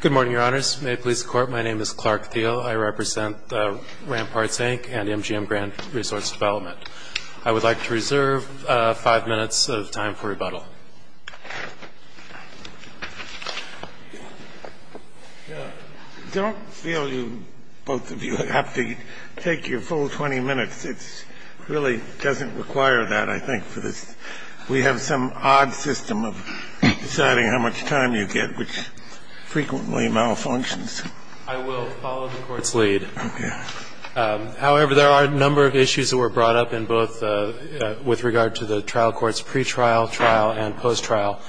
Good morning, Your Honors. May it please the Court, my name is Clark Thiel. I represent Ramparts, Inc. and MGM Grant Resource Development. I would like to reserve five minutes of time for rebuttal. Don't feel you both of you have to take your full 20 minutes. It really doesn't require that, I think, for this. We have some odd system of deciding how much time you get, which frequently malfunctions. I will follow the Court's lead. Okay. However, there are a number of issues that were brought up in both with regard to the trial court's pretrial, trial, and post-trial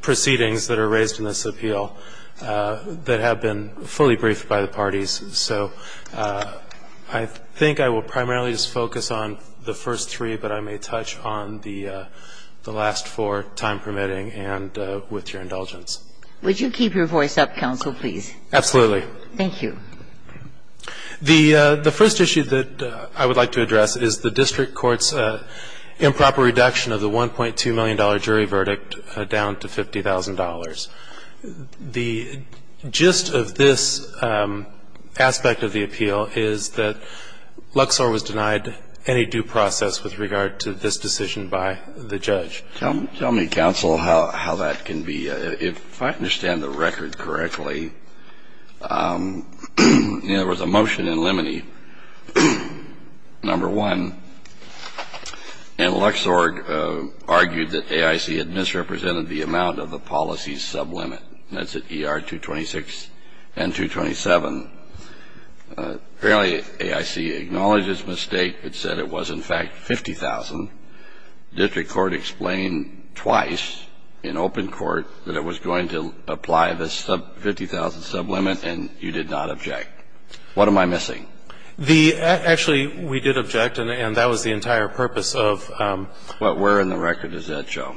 proceedings that are raised in this appeal that have been fully briefed by the parties. So I think I will primarily just focus on the first three, but I may touch on the last four, time permitting and with your indulgence. Would you keep your voice up, counsel, please? Absolutely. Thank you. The first issue that I would like to address is the district court's improper reduction of the $1.2 million jury verdict down to $50,000. The gist of this aspect of the appeal is that Luxor was denied any due process with regard to this decision by the judge. Tell me, counsel, how that can be. If I understand the record correctly, there was a motion in Lemony, number one, and Luxor argued that AIC had misrepresented the amount of the policy's sublimit. That's at ER 226 and 227. Apparently, AIC acknowledged its mistake. It said it was, in fact, $50,000. District court explained twice in open court that it was going to apply the $50,000 sublimit, and you did not object. What am I missing? Actually, we did object, and that was the entire purpose of the motion. Where in the record is that, Joe?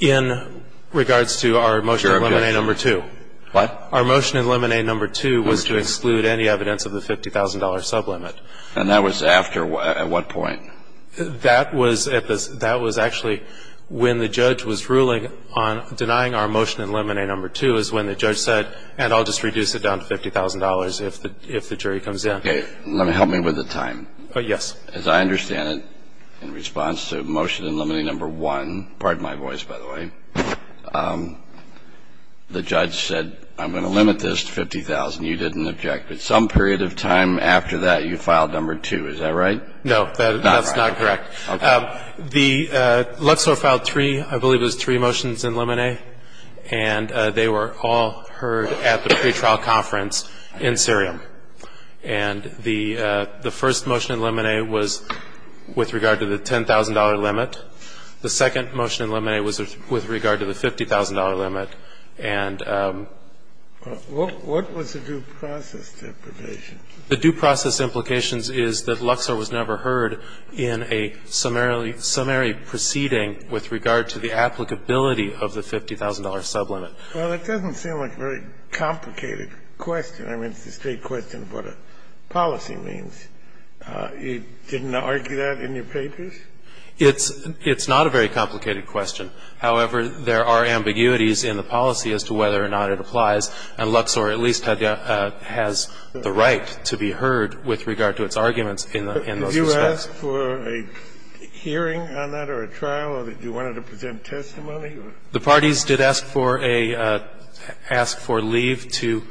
In regards to our motion in Lemony, number two. What? Our motion in Lemony, number two, was to exclude any evidence of the $50,000 sublimit. And that was after what? At what point? That was actually when the judge was ruling on denying our motion in Lemony, number two, is when the judge said, and I'll just reduce it down to $50,000 if the jury comes in. Okay. Help me with the time. Yes. As I understand it, in response to motion in Lemony, number one, pardon my voice, by the way, the judge said, I'm going to limit this to $50,000. You didn't object. But some period of time after that, you filed number two. Is that right? No, that's not correct. Okay. The Luxor filed three, I believe it was three motions in Lemony, and they were all heard at the pretrial conference in Syria. And the first motion in Lemony was with regard to the $10,000 limit. The second motion in Lemony was with regard to the $50,000 limit. And the due process implications is that Luxor was never heard in a summary proceeding with regard to the applicability of the $50,000 sublimit. Well, that doesn't seem like a very complicated question. I mean, it's a straight question of what a policy means. You didn't argue that in your papers? It's not a very complicated question. However, there are ambiguities in the policy as to whether or not it applies, and Luxor at least has the right to be heard with regard to its arguments in those respects. Did you ask for a hearing on that or a trial? Or did you want it to present testimony? The parties did ask for a leave to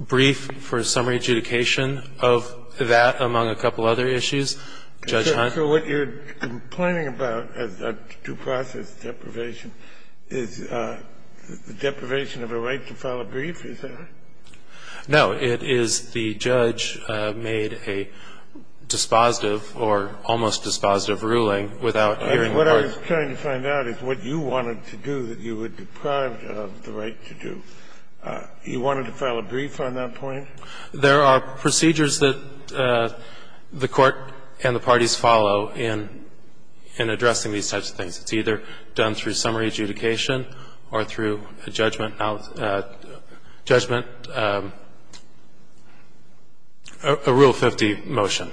brief for summary adjudication of that, among a couple other issues. Judge Hunt. So what you're complaining about as a due process deprivation is deprivation of a right to file a brief, is that right? No. It is the judge made a dispositive or almost dispositive ruling without hearing from the parties. What I was trying to find out is what you wanted to do that you were deprived of the right to do. You wanted to file a brief on that point? There are procedures that the Court and the parties follow in addressing these types of things. It's either done through summary adjudication or through a judgment, a Rule 50 motion.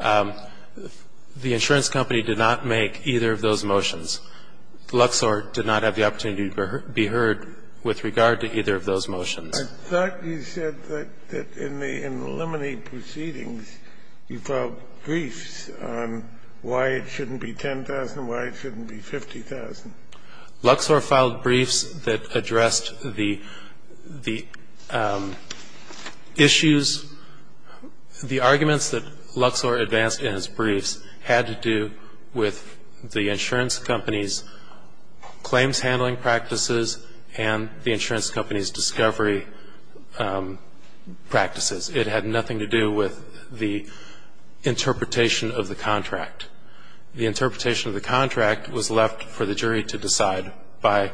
The insurance company did not make either of those motions. Luxor did not have the opportunity to be heard with regard to either of those motions. I thought you said that in the in the limine proceedings, you filed briefs on why it shouldn't be 10,000, why it shouldn't be 50,000. Luxor filed briefs that addressed the issues, the arguments that Luxor advanced in his briefs had to do with the insurance company's claims handling practices and the insurance company's discovery practices. It had nothing to do with the interpretation of the contract. The interpretation of the contract was left for the jury to decide by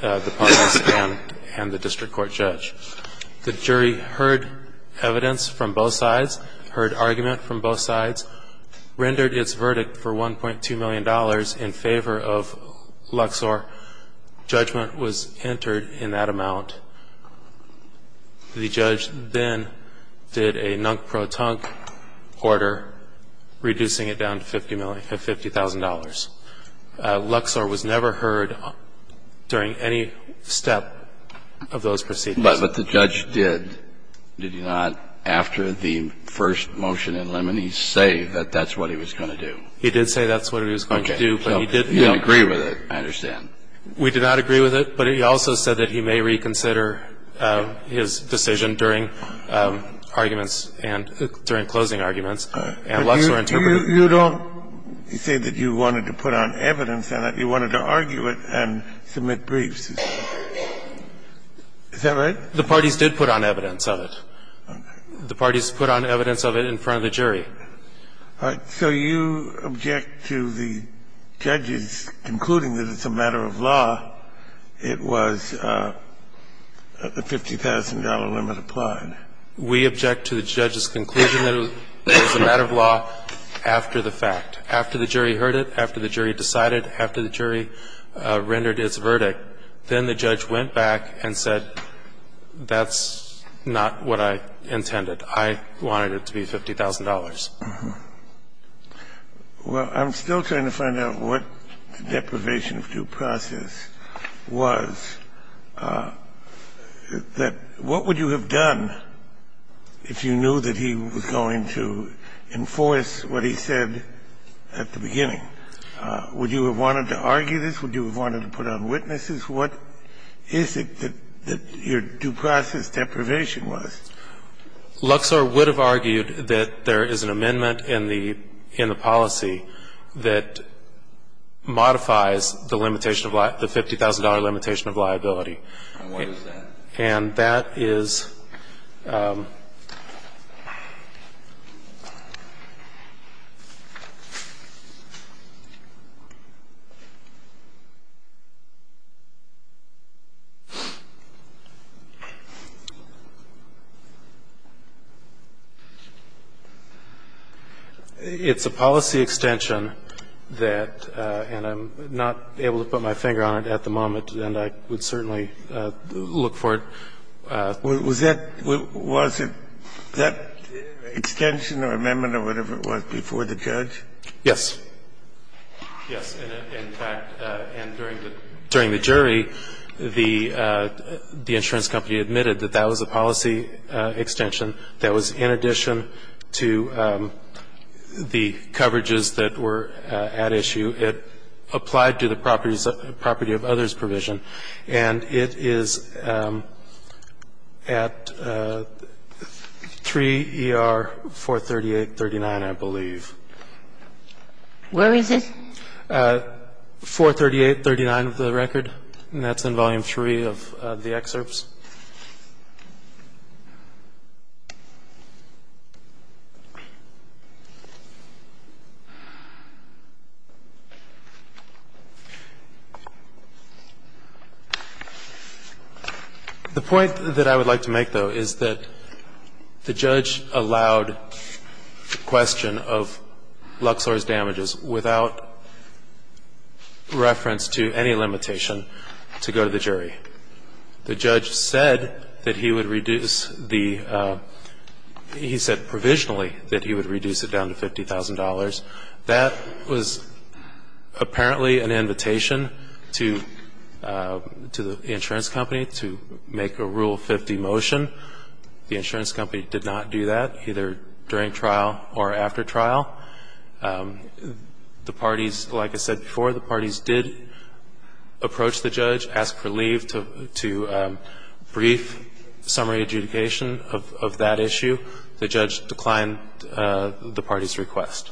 the parties and the district court judge. The jury heard evidence from both sides, heard argument from both sides, rendered its verdict for $1.2 million in favor of Luxor. Judgment was entered in that amount. The judge then did a nunk-pro-tunk order reducing it down to $50,000. Luxor was never heard during any step of those proceedings. But the judge did. Did he not, after the first motion in limine, say that that's what he was going to do? He did say that's what he was going to do, but he didn't. He didn't agree with it, I understand. We did not agree with it, but he also said that he may reconsider his decision during arguments and during closing arguments, and Luxor interpreted it. You don't say that you wanted to put on evidence on it. You wanted to argue it and submit briefs. Is that right? The parties did put on evidence of it. Okay. The parties put on evidence of it in front of the jury. So you object to the judge's concluding that it's a matter of law. It was a $50,000 limit applied. We object to the judge's conclusion that it was a matter of law after the fact, after the jury heard it, after the jury decided, after the jury rendered its verdict. Then the judge went back and said, that's not what I intended. I wanted it to be $50,000. Well, I'm still trying to find out what the deprivation of due process was, that what would you have done if you knew that he was going to enforce what he said at the beginning? Would you have wanted to argue this? Would you have wanted to put on witnesses? What is it that your due process deprivation was? Luxor would have argued that there is an amendment in the policy that modifies the $50,000 limitation of liability. And what is that? And that is It's a policy extension that — and I'm not able to put my finger on it at the moment, and I would certainly look for it. Was that — was it — that extension or amendment or whatever it was before the judge? Yes. Yes. In fact, and during the jury, the insurance company admitted that that was a policy extension that was in addition to the coverages that were at issue. It applied to the property of others provision. And it is at 3 ER 43839, I believe. Where is it? 43839 of the record, and that's in Volume 3 of the excerpts. The point that I would like to make, though, is that the judge allowed the question of Luxor's damages without reference to any limitation to go to the jury. The judge said that he would reduce the — he said provisionally that he would reduce it down to $50,000. That was apparently an invitation to the insurance company to make a Rule 50 motion. The insurance company did not do that, either during trial or after trial. The parties, like I said before, the parties did approach the judge, ask for leave to brief summary adjudication of that issue. The judge declined the party's request.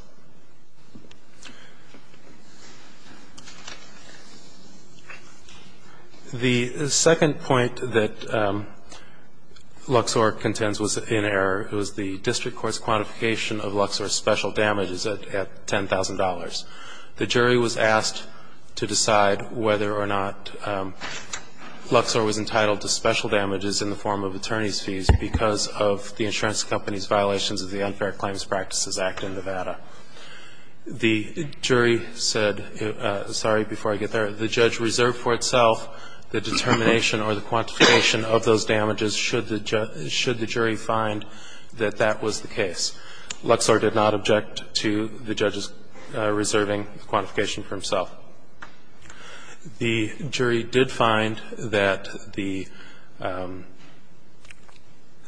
The second point that Luxor contends was in error. It was the district court's quantification of Luxor's special damages at $10,000. The jury was asked to decide whether or not Luxor was entitled to special damages in the form of attorney's fees because of the insurance company's violations of the Unfair Claims Practices Act in Nevada. The jury said — sorry, before I get there — the judge reserved for itself the determination or the quantification of those damages should the jury find that that was the case. Luxor did not object to the judge's reserving the quantification for himself. The jury did find that the —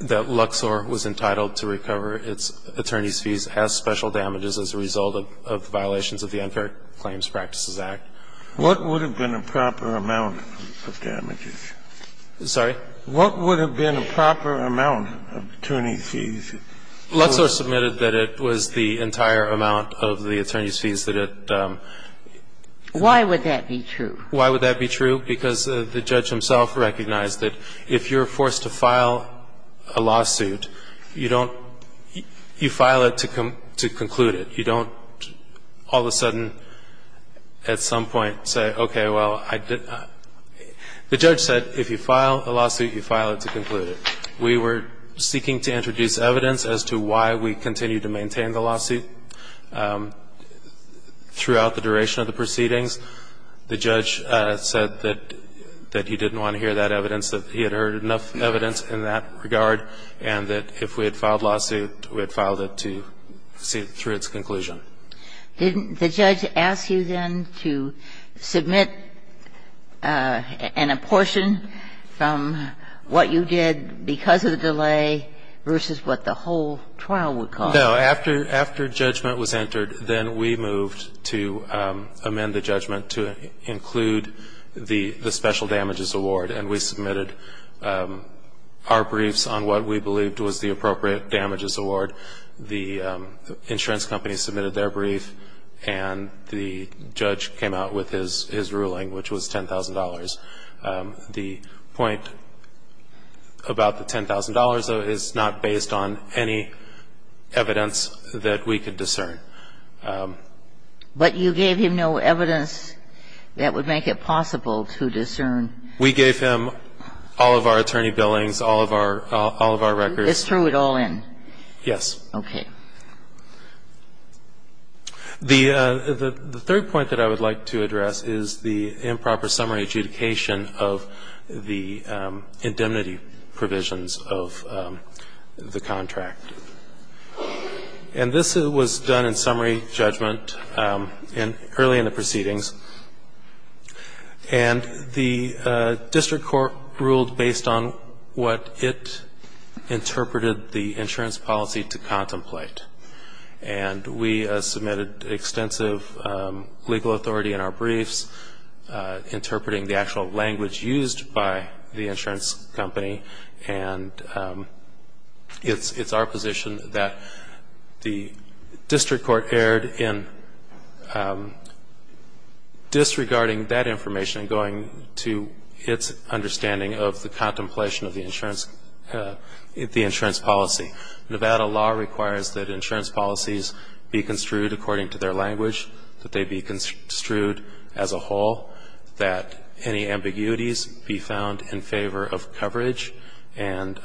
that Luxor was entitled to recover its attorney's fees as special damages as a result of violations of the Unfair Claims Practices Act. What would have been a proper amount of damages? Sorry? What would have been a proper amount of attorney's fees? Luxor submitted that it was the entire amount of the attorney's fees that it — Why would that be true? Why would that be true? Because the judge himself recognized that if you're forced to file a lawsuit, you don't — you file it to conclude it. You don't all of a sudden at some point say, okay, well, I didn't — the judge said if you file a lawsuit, you file it to conclude it. We were seeking to introduce evidence as to why we continued to maintain the lawsuit throughout the duration of the proceedings. The judge said that he didn't want to hear that evidence, that he had heard enough evidence in that regard, and that if we had filed a lawsuit, we had filed it to see through its conclusion. Didn't the judge ask you then to submit an apportion from what you did because of the delay versus what the whole trial would cost? No. After — after judgment was entered, then we moved to amend the judgment to include the special damages award, and we submitted our briefs on what we believed was the appropriate damages award. The insurance company submitted their brief, and the judge came out with his — his ruling, which was $10,000. The point about the $10,000, though, is not based on any evidence that we could discern. But you gave him no evidence that would make it possible to discern. We gave him all of our attorney billings, all of our — all of our records. You just threw it all in. Yes. Okay. The third point that I would like to address is the improper summary adjudication of the indemnity provisions of the contract. And this was done in summary judgment early in the proceedings, and the district court ruled based on what it interpreted the insurance policy to contemplate. And we submitted extensive legal authority in our briefs, interpreting the actual language used by the insurance company, and it's our position that the district court erred in disregarding that information and going to its understanding of the contemplation of the insurance — the insurance policy. Nevada law requires that insurance policies be construed according to their language, that they be construed as a whole, that any ambiguities be found in favor of coverage and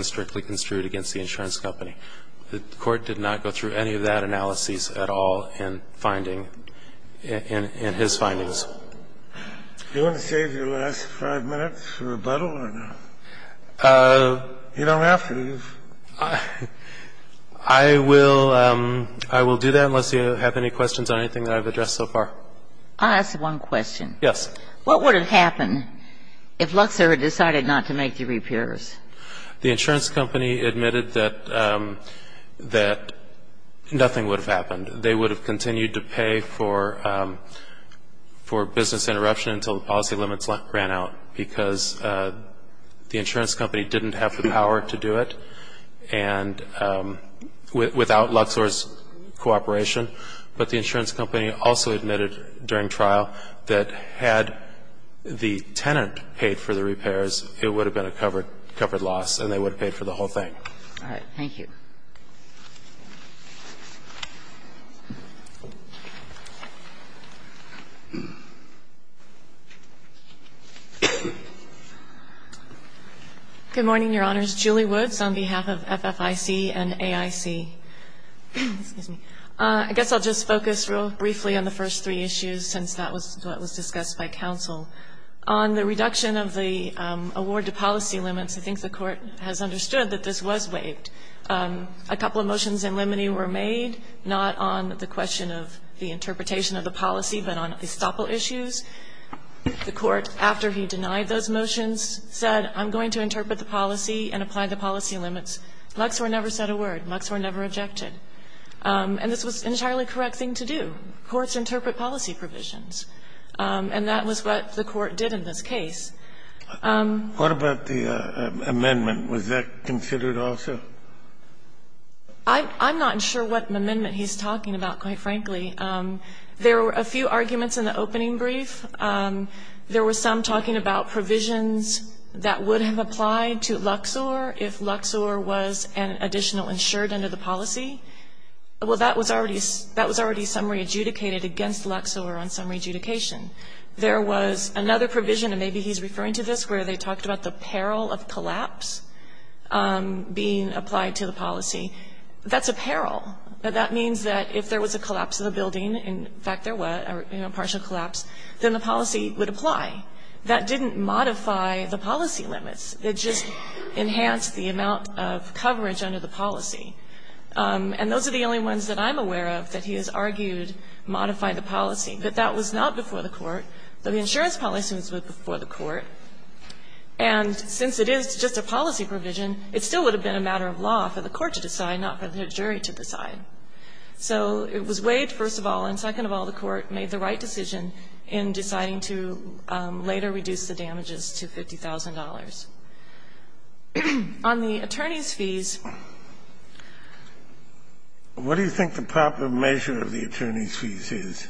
strictly construed against the insurance company. The Court did not go through any of that analysis at all in finding — in his findings. Do you want to save your last five minutes for rebuttal or not? You don't have to. I will — I will do that unless you have any questions on anything that I've addressed so far. I'll ask one question. Yes. What would have happened if Luxor had decided not to make the repairs? The insurance company admitted that — that nothing would have happened. They would have continued to pay for — for business interruption until the policy limits ran out because the insurance company didn't have the power to do it and — without Luxor's cooperation. But the insurance company also admitted during trial that had the tenant paid for the repairs, it would have been a covered — covered loss and they would have paid for the whole thing. All right. Thank you. Good morning, Your Honors. Julie Woods on behalf of FFIC and AIC. Excuse me. I guess I'll just focus real briefly on the first three issues since that was what was discussed by counsel. On the reduction of the award to policy limits, I think the Court has understood that this was waived. A couple of motions in limine were made, not on the question of the interpretation of the policy, but on estoppel issues. The Court, after he denied those motions, said, I'm going to interpret the policy and apply the policy limits. Luxor never said a word. Luxor never objected. And this was an entirely correct thing to do. Courts interpret policy provisions. And that was what the Court did in this case. What about the amendment? Was that considered also? I'm not sure what amendment he's talking about, quite frankly. There were a few arguments in the opening brief. There were some talking about provisions that would have applied to Luxor if Luxor was an additional insured under the policy. Well, that was already summary adjudicated against Luxor on summary adjudication. There was another provision, and maybe he's referring to this, where they talked about the peril of collapse being applied to the policy. That's a peril. That means that if there was a collapse of the building, in fact there was, a partial collapse, then the policy would apply. That didn't modify the policy limits. It just enhanced the amount of coverage under the policy. And those are the only ones that I'm aware of that he has argued modify the policy. But that was not before the Court. The insurance policy was before the Court. And since it is just a policy provision, it still would have been a matter of law for the Court to decide, not for the jury to decide. So it was Wade, first of all, and second of all, the Court made the right decision in deciding to later reduce the damages to $50,000. On the attorney's fees. Kennedy, what do you think the proper measure of the attorney's fees is?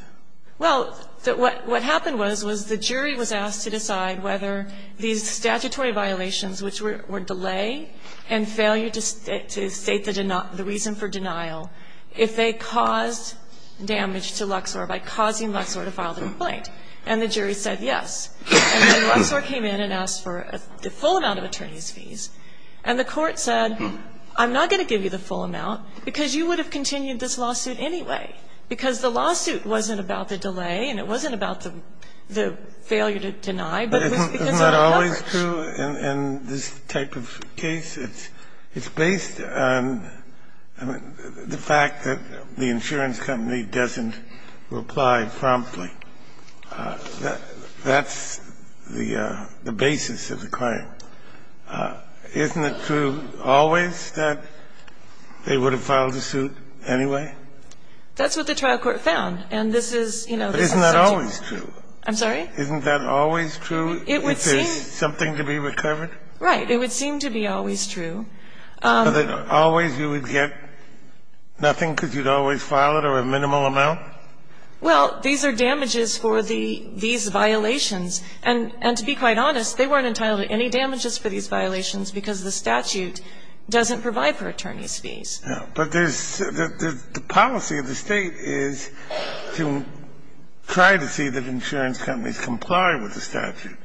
Well, what happened was, was the jury was asked to decide whether these statutory violations, which were delay and failure to state the reason for denial, if they caused damage to Luxor by causing Luxor to file the complaint. And the jury said yes. And then Luxor came in and asked for the full amount of attorney's fees. And the Court said, I'm not going to give you the full amount because you would have continued this lawsuit anyway, because the lawsuit wasn't about the delay and it wasn't about the failure to deny, but it was because of the coverage. But isn't that always true in this type of case? It's based on the fact that the insurance company doesn't reply promptly. That's the basis of the crime. Isn't it true always that they would have filed the suit anyway? That's what the trial court found. And this is, you know, this is something that's true. But isn't that always true? I'm sorry? Isn't that always true if there's something to be recovered? Right. It would seem to be always true. But always you would get nothing because you'd always file it or a minimal amount? Well, these are damages for the fees violations. And to be quite honest, they weren't entitled to any damages for these violations because the statute doesn't provide for attorney's fees. Yeah. But there's the policy of the State is to try to see that insurance companies comply with the statute.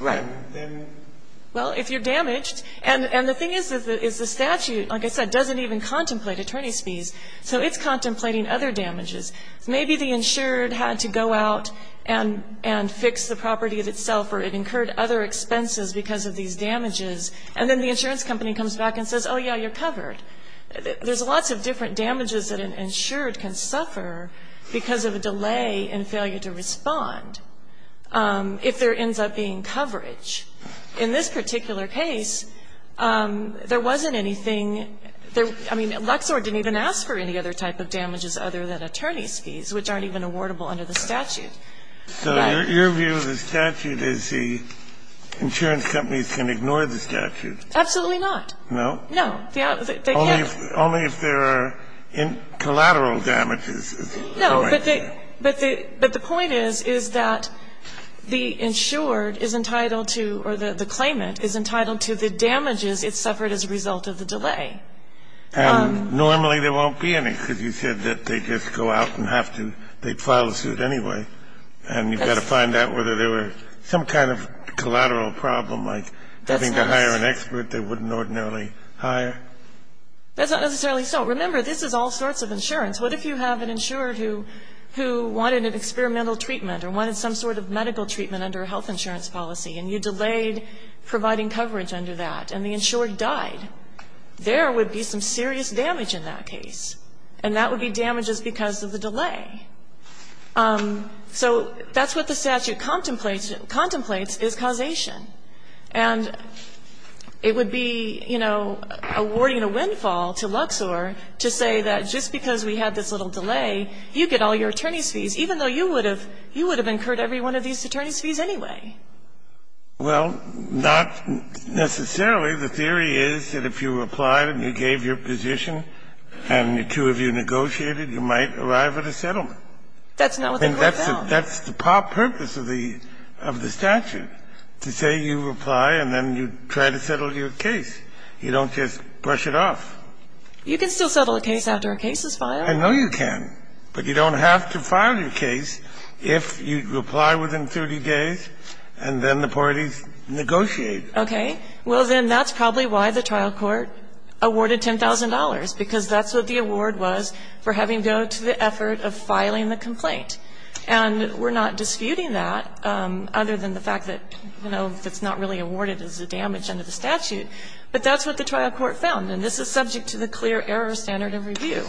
Right. Well, if you're damaged, and the thing is, is the statute, like I said, doesn't even contemplate attorney's fees, so it's contemplating other damages. Maybe the insured had to go out and fix the property itself or it incurred other expenses because of these damages, and then the insurance company comes back and says, there's lots of different damages that an insured can suffer because of a delay in failure to respond if there ends up being coverage. In this particular case, there wasn't anything. I mean, Luxor didn't even ask for any other type of damages other than attorney's fees, which aren't even awardable under the statute. So your view of the statute is the insurance companies can ignore the statute? Absolutely not. No? No. They can't. Only if there are collateral damages. No. But the point is, is that the insured is entitled to, or the claimant is entitled to the damages it suffered as a result of the delay. And normally there won't be any because you said that they just go out and have to they file a suit anyway. And you've got to find out whether there were some kind of collateral problem like having to hire an expert. They wouldn't ordinarily hire. That's not necessarily so. Remember, this is all sorts of insurance. What if you have an insured who wanted an experimental treatment or wanted some sort of medical treatment under a health insurance policy, and you delayed providing coverage under that, and the insured died? There would be some serious damage in that case. And that would be damages because of the delay. So that's what the statute contemplates is causation. And it would be, you know, awarding a windfall to Luxor to say that just because we had this little delay, you get all your attorney's fees, even though you would have incurred every one of these attorney's fees anyway. Well, not necessarily. The theory is that if you applied and you gave your position and the two of you negotiated, you might arrive at a settlement. That's not what the court found. That's the purpose of the statute, to say you reply and then you try to settle your case. You don't just brush it off. You can still settle a case after a case is filed. I know you can. But you don't have to file your case if you reply within 30 days and then the parties negotiate. Okay. Well, then that's probably why the trial court awarded $10,000, because that's what the award was for having to go to the effort of filing the complaint. And we're not disputing that, other than the fact that, you know, that's not really awarded as a damage under the statute. But that's what the trial court found. And this is subject to the clear error standard of review.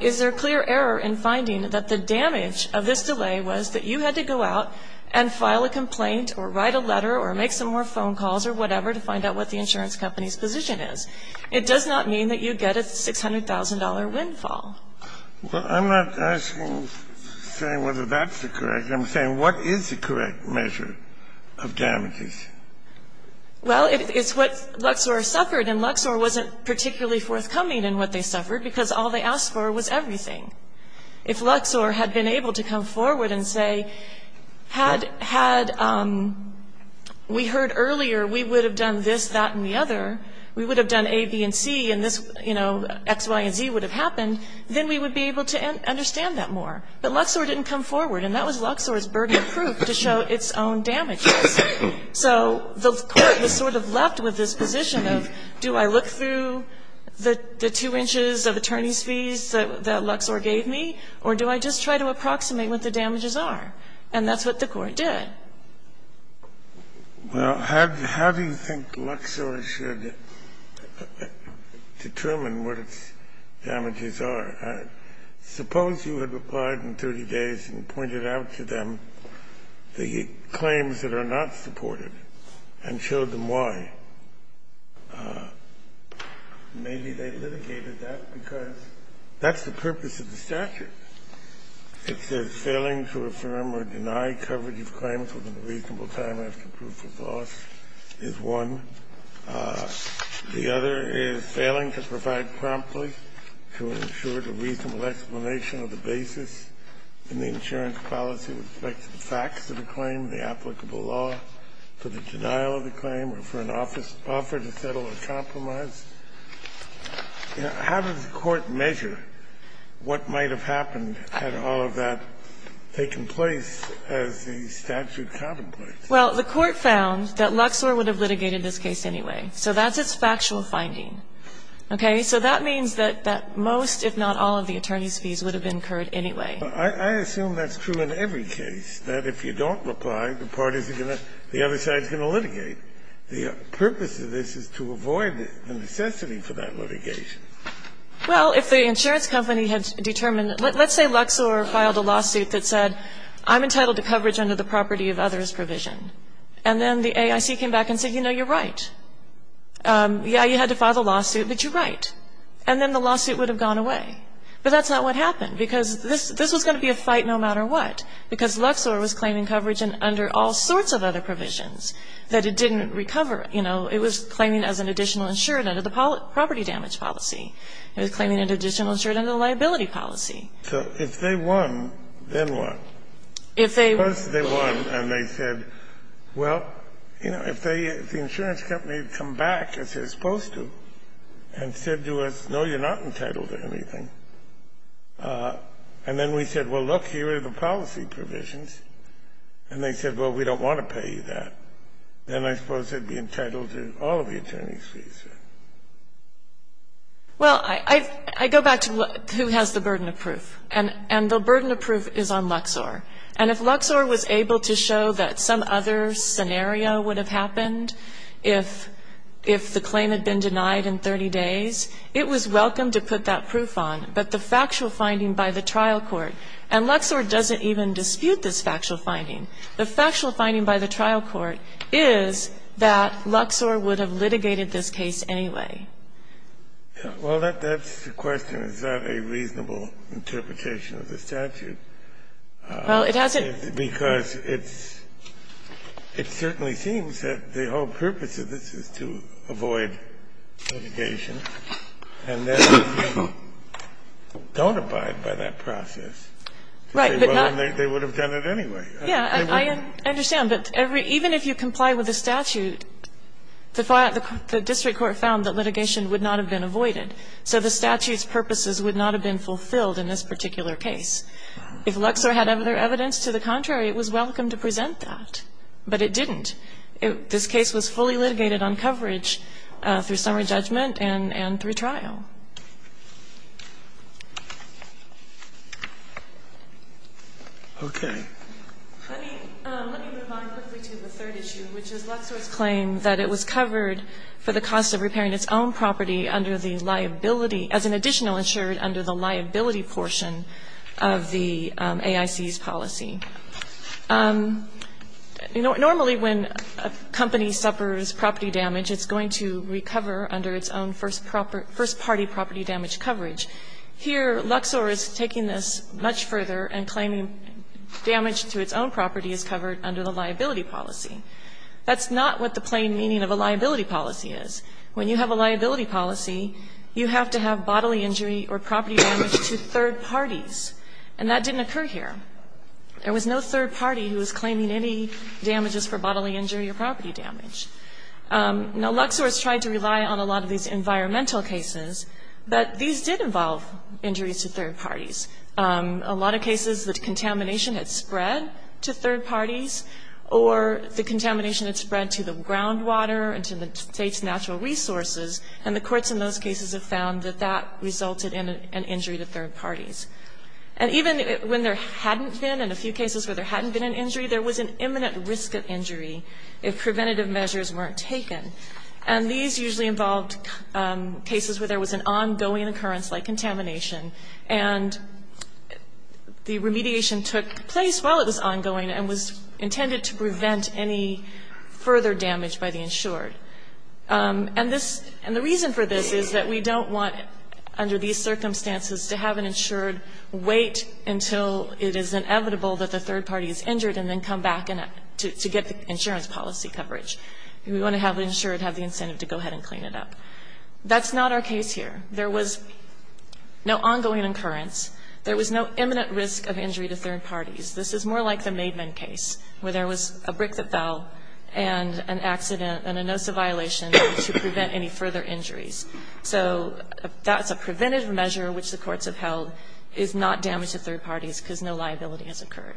Is there clear error in finding that the damage of this delay was that you had to go out and file a complaint or write a letter or make some more phone calls or whatever to find out what the insurance company's position is? It does not mean that you get a $600,000 windfall. Well, I'm not asking, saying whether that's the correct answer. I'm saying what is the correct measure of damages? Well, it's what Luxor suffered, and Luxor wasn't particularly forthcoming in what they suffered, because all they asked for was everything. If Luxor had been able to come forward and say, had we heard earlier we would have done this, that, and the other, we would have done A, B, and C, and this, you know, X, Y, and Z would have happened, then we would be able to understand that more. But Luxor didn't come forward. And that was Luxor's burden of proof to show its own damages. So the court was sort of left with this position of, do I look through the two inches of attorney's fees that Luxor gave me, or do I just try to approximate what the damages are? And that's what the court did. Well, how do you think Luxor should determine what its damages are? Suppose you had replied in 30 days and pointed out to them the claims that are not supported and showed them why. Maybe they litigated that because that's the purpose of the statute. It says failing to affirm or deny coverage of claims within a reasonable time after proof of loss is one. The other is failing to provide promptly to ensure the reasonable explanation of the basis in the insurance policy with respect to the facts of the claim, the applicable law, for the denial of the claim, or for an offer to settle a compromise. How does the court measure what might have happened had all of that taken place as the statute contemplates? Well, the court found that Luxor would have litigated this case anyway. So that's its factual finding. Okay? So that means that that most, if not all, of the attorney's fees would have been incurred anyway. I assume that's true in every case, that if you don't reply, the parties are going to the other side is going to litigate. The purpose of this is to avoid the necessity for that litigation. Well, if the insurance company had determined that, let's say Luxor filed a lawsuit that said, I'm entitled to coverage under the property of others provision. And then the AIC came back and said, you know, you're right. Yeah, you had to file the lawsuit, but you're right. And then the lawsuit would have gone away. But that's not what happened, because this was going to be a fight no matter what, because Luxor was claiming coverage under all sorts of other provisions that it didn't recover, you know. It was claiming as an additional insured under the property damage policy. It was claiming an additional insured under the liability policy. So if they won, then what? If they won. Suppose they won and they said, well, you know, if they, if the insurance company had come back, as they're supposed to, and said to us, no, you're not entitled to anything, and then we said, well, look, here are the policy provisions, and they said, well, we don't want to pay you that, then I suppose they'd be entitled to all of the attorney's fees. Well, I go back to who has the burden of proof. And the burden of proof is on Luxor. And if Luxor was able to show that some other scenario would have happened, if the claim had been denied in 30 days, it was welcome to put that proof on. But the factual finding by the trial court, and Luxor doesn't even dispute this factual finding by the trial court, is that Luxor would have litigated this case anyway. Well, that's the question. Is that a reasonable interpretation of the statute? Well, it hasn't. Because it's, it certainly seems that the whole purpose of this is to avoid litigation and then don't abide by that process. Right. But not. They would have done it anyway. Yeah, I understand. But even if you comply with the statute, the district court found that litigation would not have been avoided. So the statute's purposes would not have been fulfilled in this particular case. If Luxor had other evidence to the contrary, it was welcome to present that. But it didn't. This case was fully litigated on coverage through summary judgment and through trial. Okay. Let me, let me move on quickly to the third issue, which is Luxor's claim that it was covered for the cost of repairing its own property under the liability, as an additional insured under the liability portion of the AIC's policy. Normally, when a company suffers property damage, it's going to recover under its own first party property damage coverage. Here Luxor is taking this much further and claiming damage to its own property is covered under the liability policy. That's not what the plain meaning of a liability policy is. When you have a liability policy, you have to have bodily injury or property damage to third parties, and that didn't occur here. There was no third party who was claiming any damages for bodily injury or property damage. Now, Luxor has tried to rely on a lot of these environmental cases, but these did involve injuries to third parties. A lot of cases, the contamination had spread to third parties or the contamination had spread to the groundwater and to the State's natural resources, and the courts in those cases have found that that resulted in an injury to third parties. And even when there hadn't been, in a few cases where there hadn't been an injury, there was an imminent risk of injury if preventative measures weren't taken. And these usually involved cases where there was an ongoing occurrence like contamination, and the remediation took place while it was ongoing and was intended to prevent any further damage by the insured. And this – and the reason for this is that we don't want, under these circumstances, to have an insured wait until it is inevitable that the third party is injured and then come back to get the insurance policy coverage. We want to have the insured have the incentive to go ahead and clean it up. That's not our case here. There was no ongoing occurrence. There was no imminent risk of injury to third parties. This is more like the Maidman case, where there was a brick that fell and an accident and a NOSA violation to prevent any further injuries. So that's a preventative measure which the courts have held is not damage to third parties because no liability has occurred.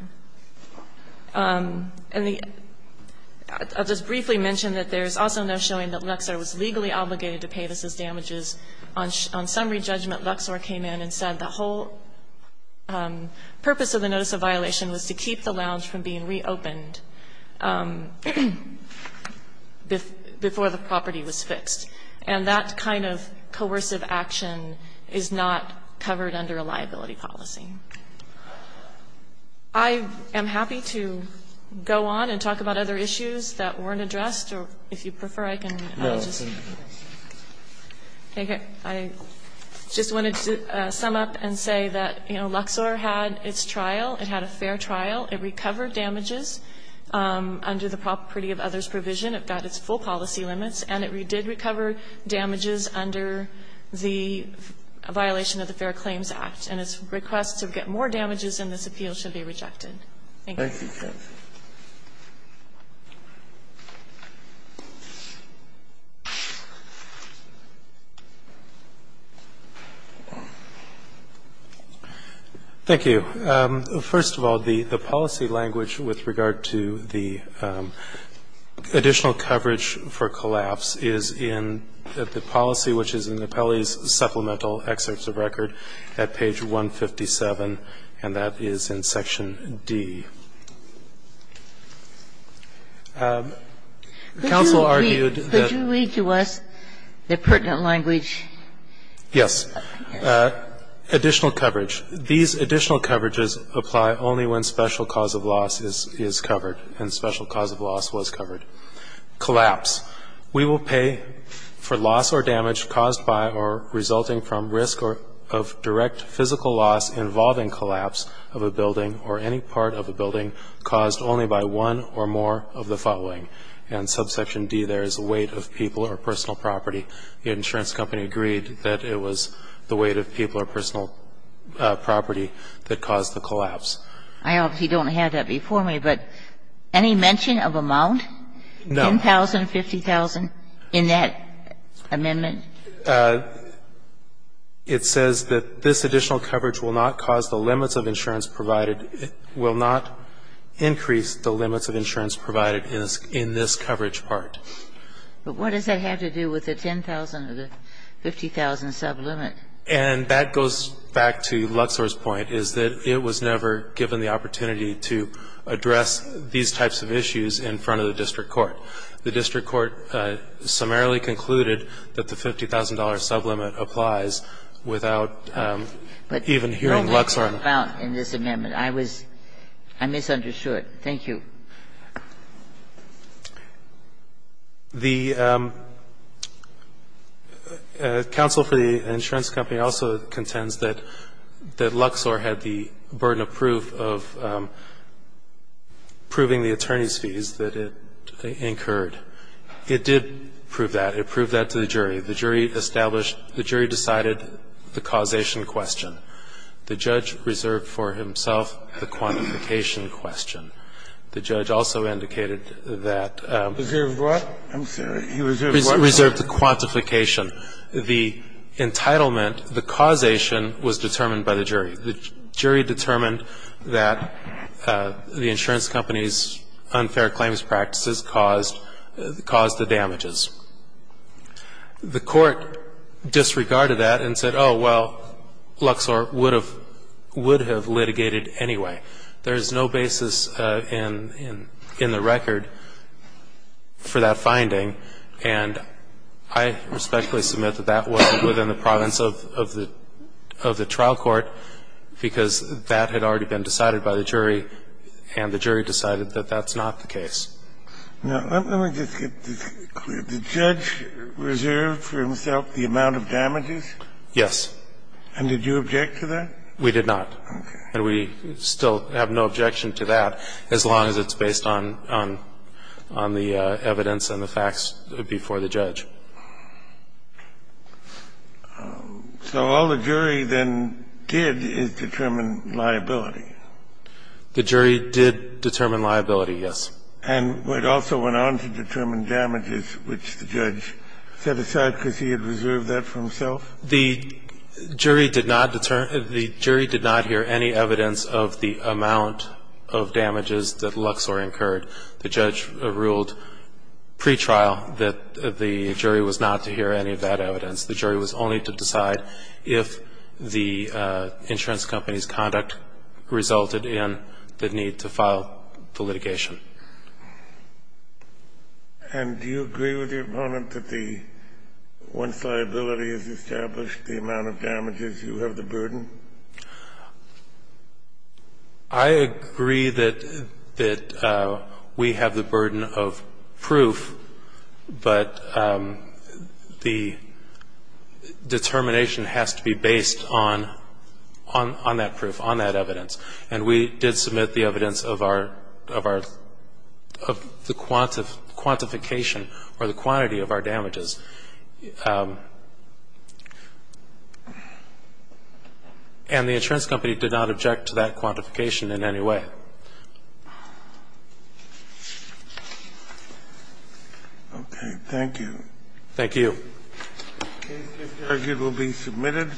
And the – I'll just briefly mention that there's also no showing that Luxor was legally obligated to pay this as damages. On summary judgment, Luxor came in and said the whole purpose of the NOSA violation was to keep the lounge from being reopened before the property was fixed. And that kind of coercive action is not covered under a liability policy. I am happy to go on and talk about other issues that weren't addressed, or if you prefer, I can just take it. I just wanted to sum up and say that, you know, Luxor had its trial. It had a fair trial. It recovered damages under the property of others provision. It got its full policy limits. And it did recover damages under the violation of the Fair Claims Act. And its request to get more damages in this appeal should be rejected. Thank you. Breyer. Thank you. First of all, the policy language with regard to the additional coverage for collapse is in the policy, which is in the Appellee's Supplemental Excerpts of Record at page 157, and that is in section D. Counsel argued that the pertinent language. Yes. Additional coverage. These additional coverages apply only when special cause of loss is covered and special cause of loss was covered. Collapse. We will pay for loss or damage caused by or resulting from risk of direct physical loss involving collapse of a building or any part of a building caused only by one or more of the following. And subsection D there is weight of people or personal property. The insurance company agreed that it was the weight of people or personal property that caused the collapse. I obviously don't have that before me, but any mention of amount? No. $10,000, $50,000 in that amendment? It says that this additional coverage will not cause the limits of insurance provided, will not increase the limits of insurance provided in this coverage But what does that have to do with the $10,000 or the $50,000 sublimit? And that goes back to Luxor's point, is that it was never given the opportunity to address these types of issues in front of the district court. The district court summarily concluded that the $50,000 sublimit applies without even hearing Luxor. But there was no amount in this amendment. I was – I misunderstood. Thank you. The counsel for the insurance company also contends that Luxor had the burden of proof of proving the attorney's fees that it incurred. It did prove that. It proved that to the jury. The jury established – the jury decided the causation question. The judge reserved for himself the quantification question. The judge also indicated that – Reserved what? I'm sorry. He reserved what? Reserved the quantification. The entitlement, the causation was determined by the jury. The jury determined that the insurance company's unfair claims practices caused the damages. The court disregarded that and said, oh, well, Luxor would have litigated anyway. There is no basis in the record for that finding. And I respectfully submit that that wasn't within the province of the trial court because that had already been decided by the jury, and the jury decided that that's not the case. Now, let me just get this clear. The judge reserved for himself the amount of damages? Yes. And did you object to that? We did not. And we still have no objection to that as long as it's based on the evidence and the facts before the judge. So all the jury then did is determine liability. The jury did determine liability, yes. And it also went on to determine damages, which the judge set aside because he had reserved that for himself? The jury did not hear any evidence of the amount of damages that Luxor incurred. The judge ruled pretrial that the jury was not to hear any of that evidence. The jury was only to decide if the insurance company's conduct resulted in the need to file the litigation. And do you agree with your opponent that the one liability is established, the amount of damages, you have the burden? I agree that we have the burden of proof, but the determination has to be based on that proof, on that evidence. And we did submit the evidence of our, of our, of the quantification or the quantity of our damages. And the insurance company did not object to that quantification in any way. Okay. Thank you. Thank you. The case is argued will be submitted.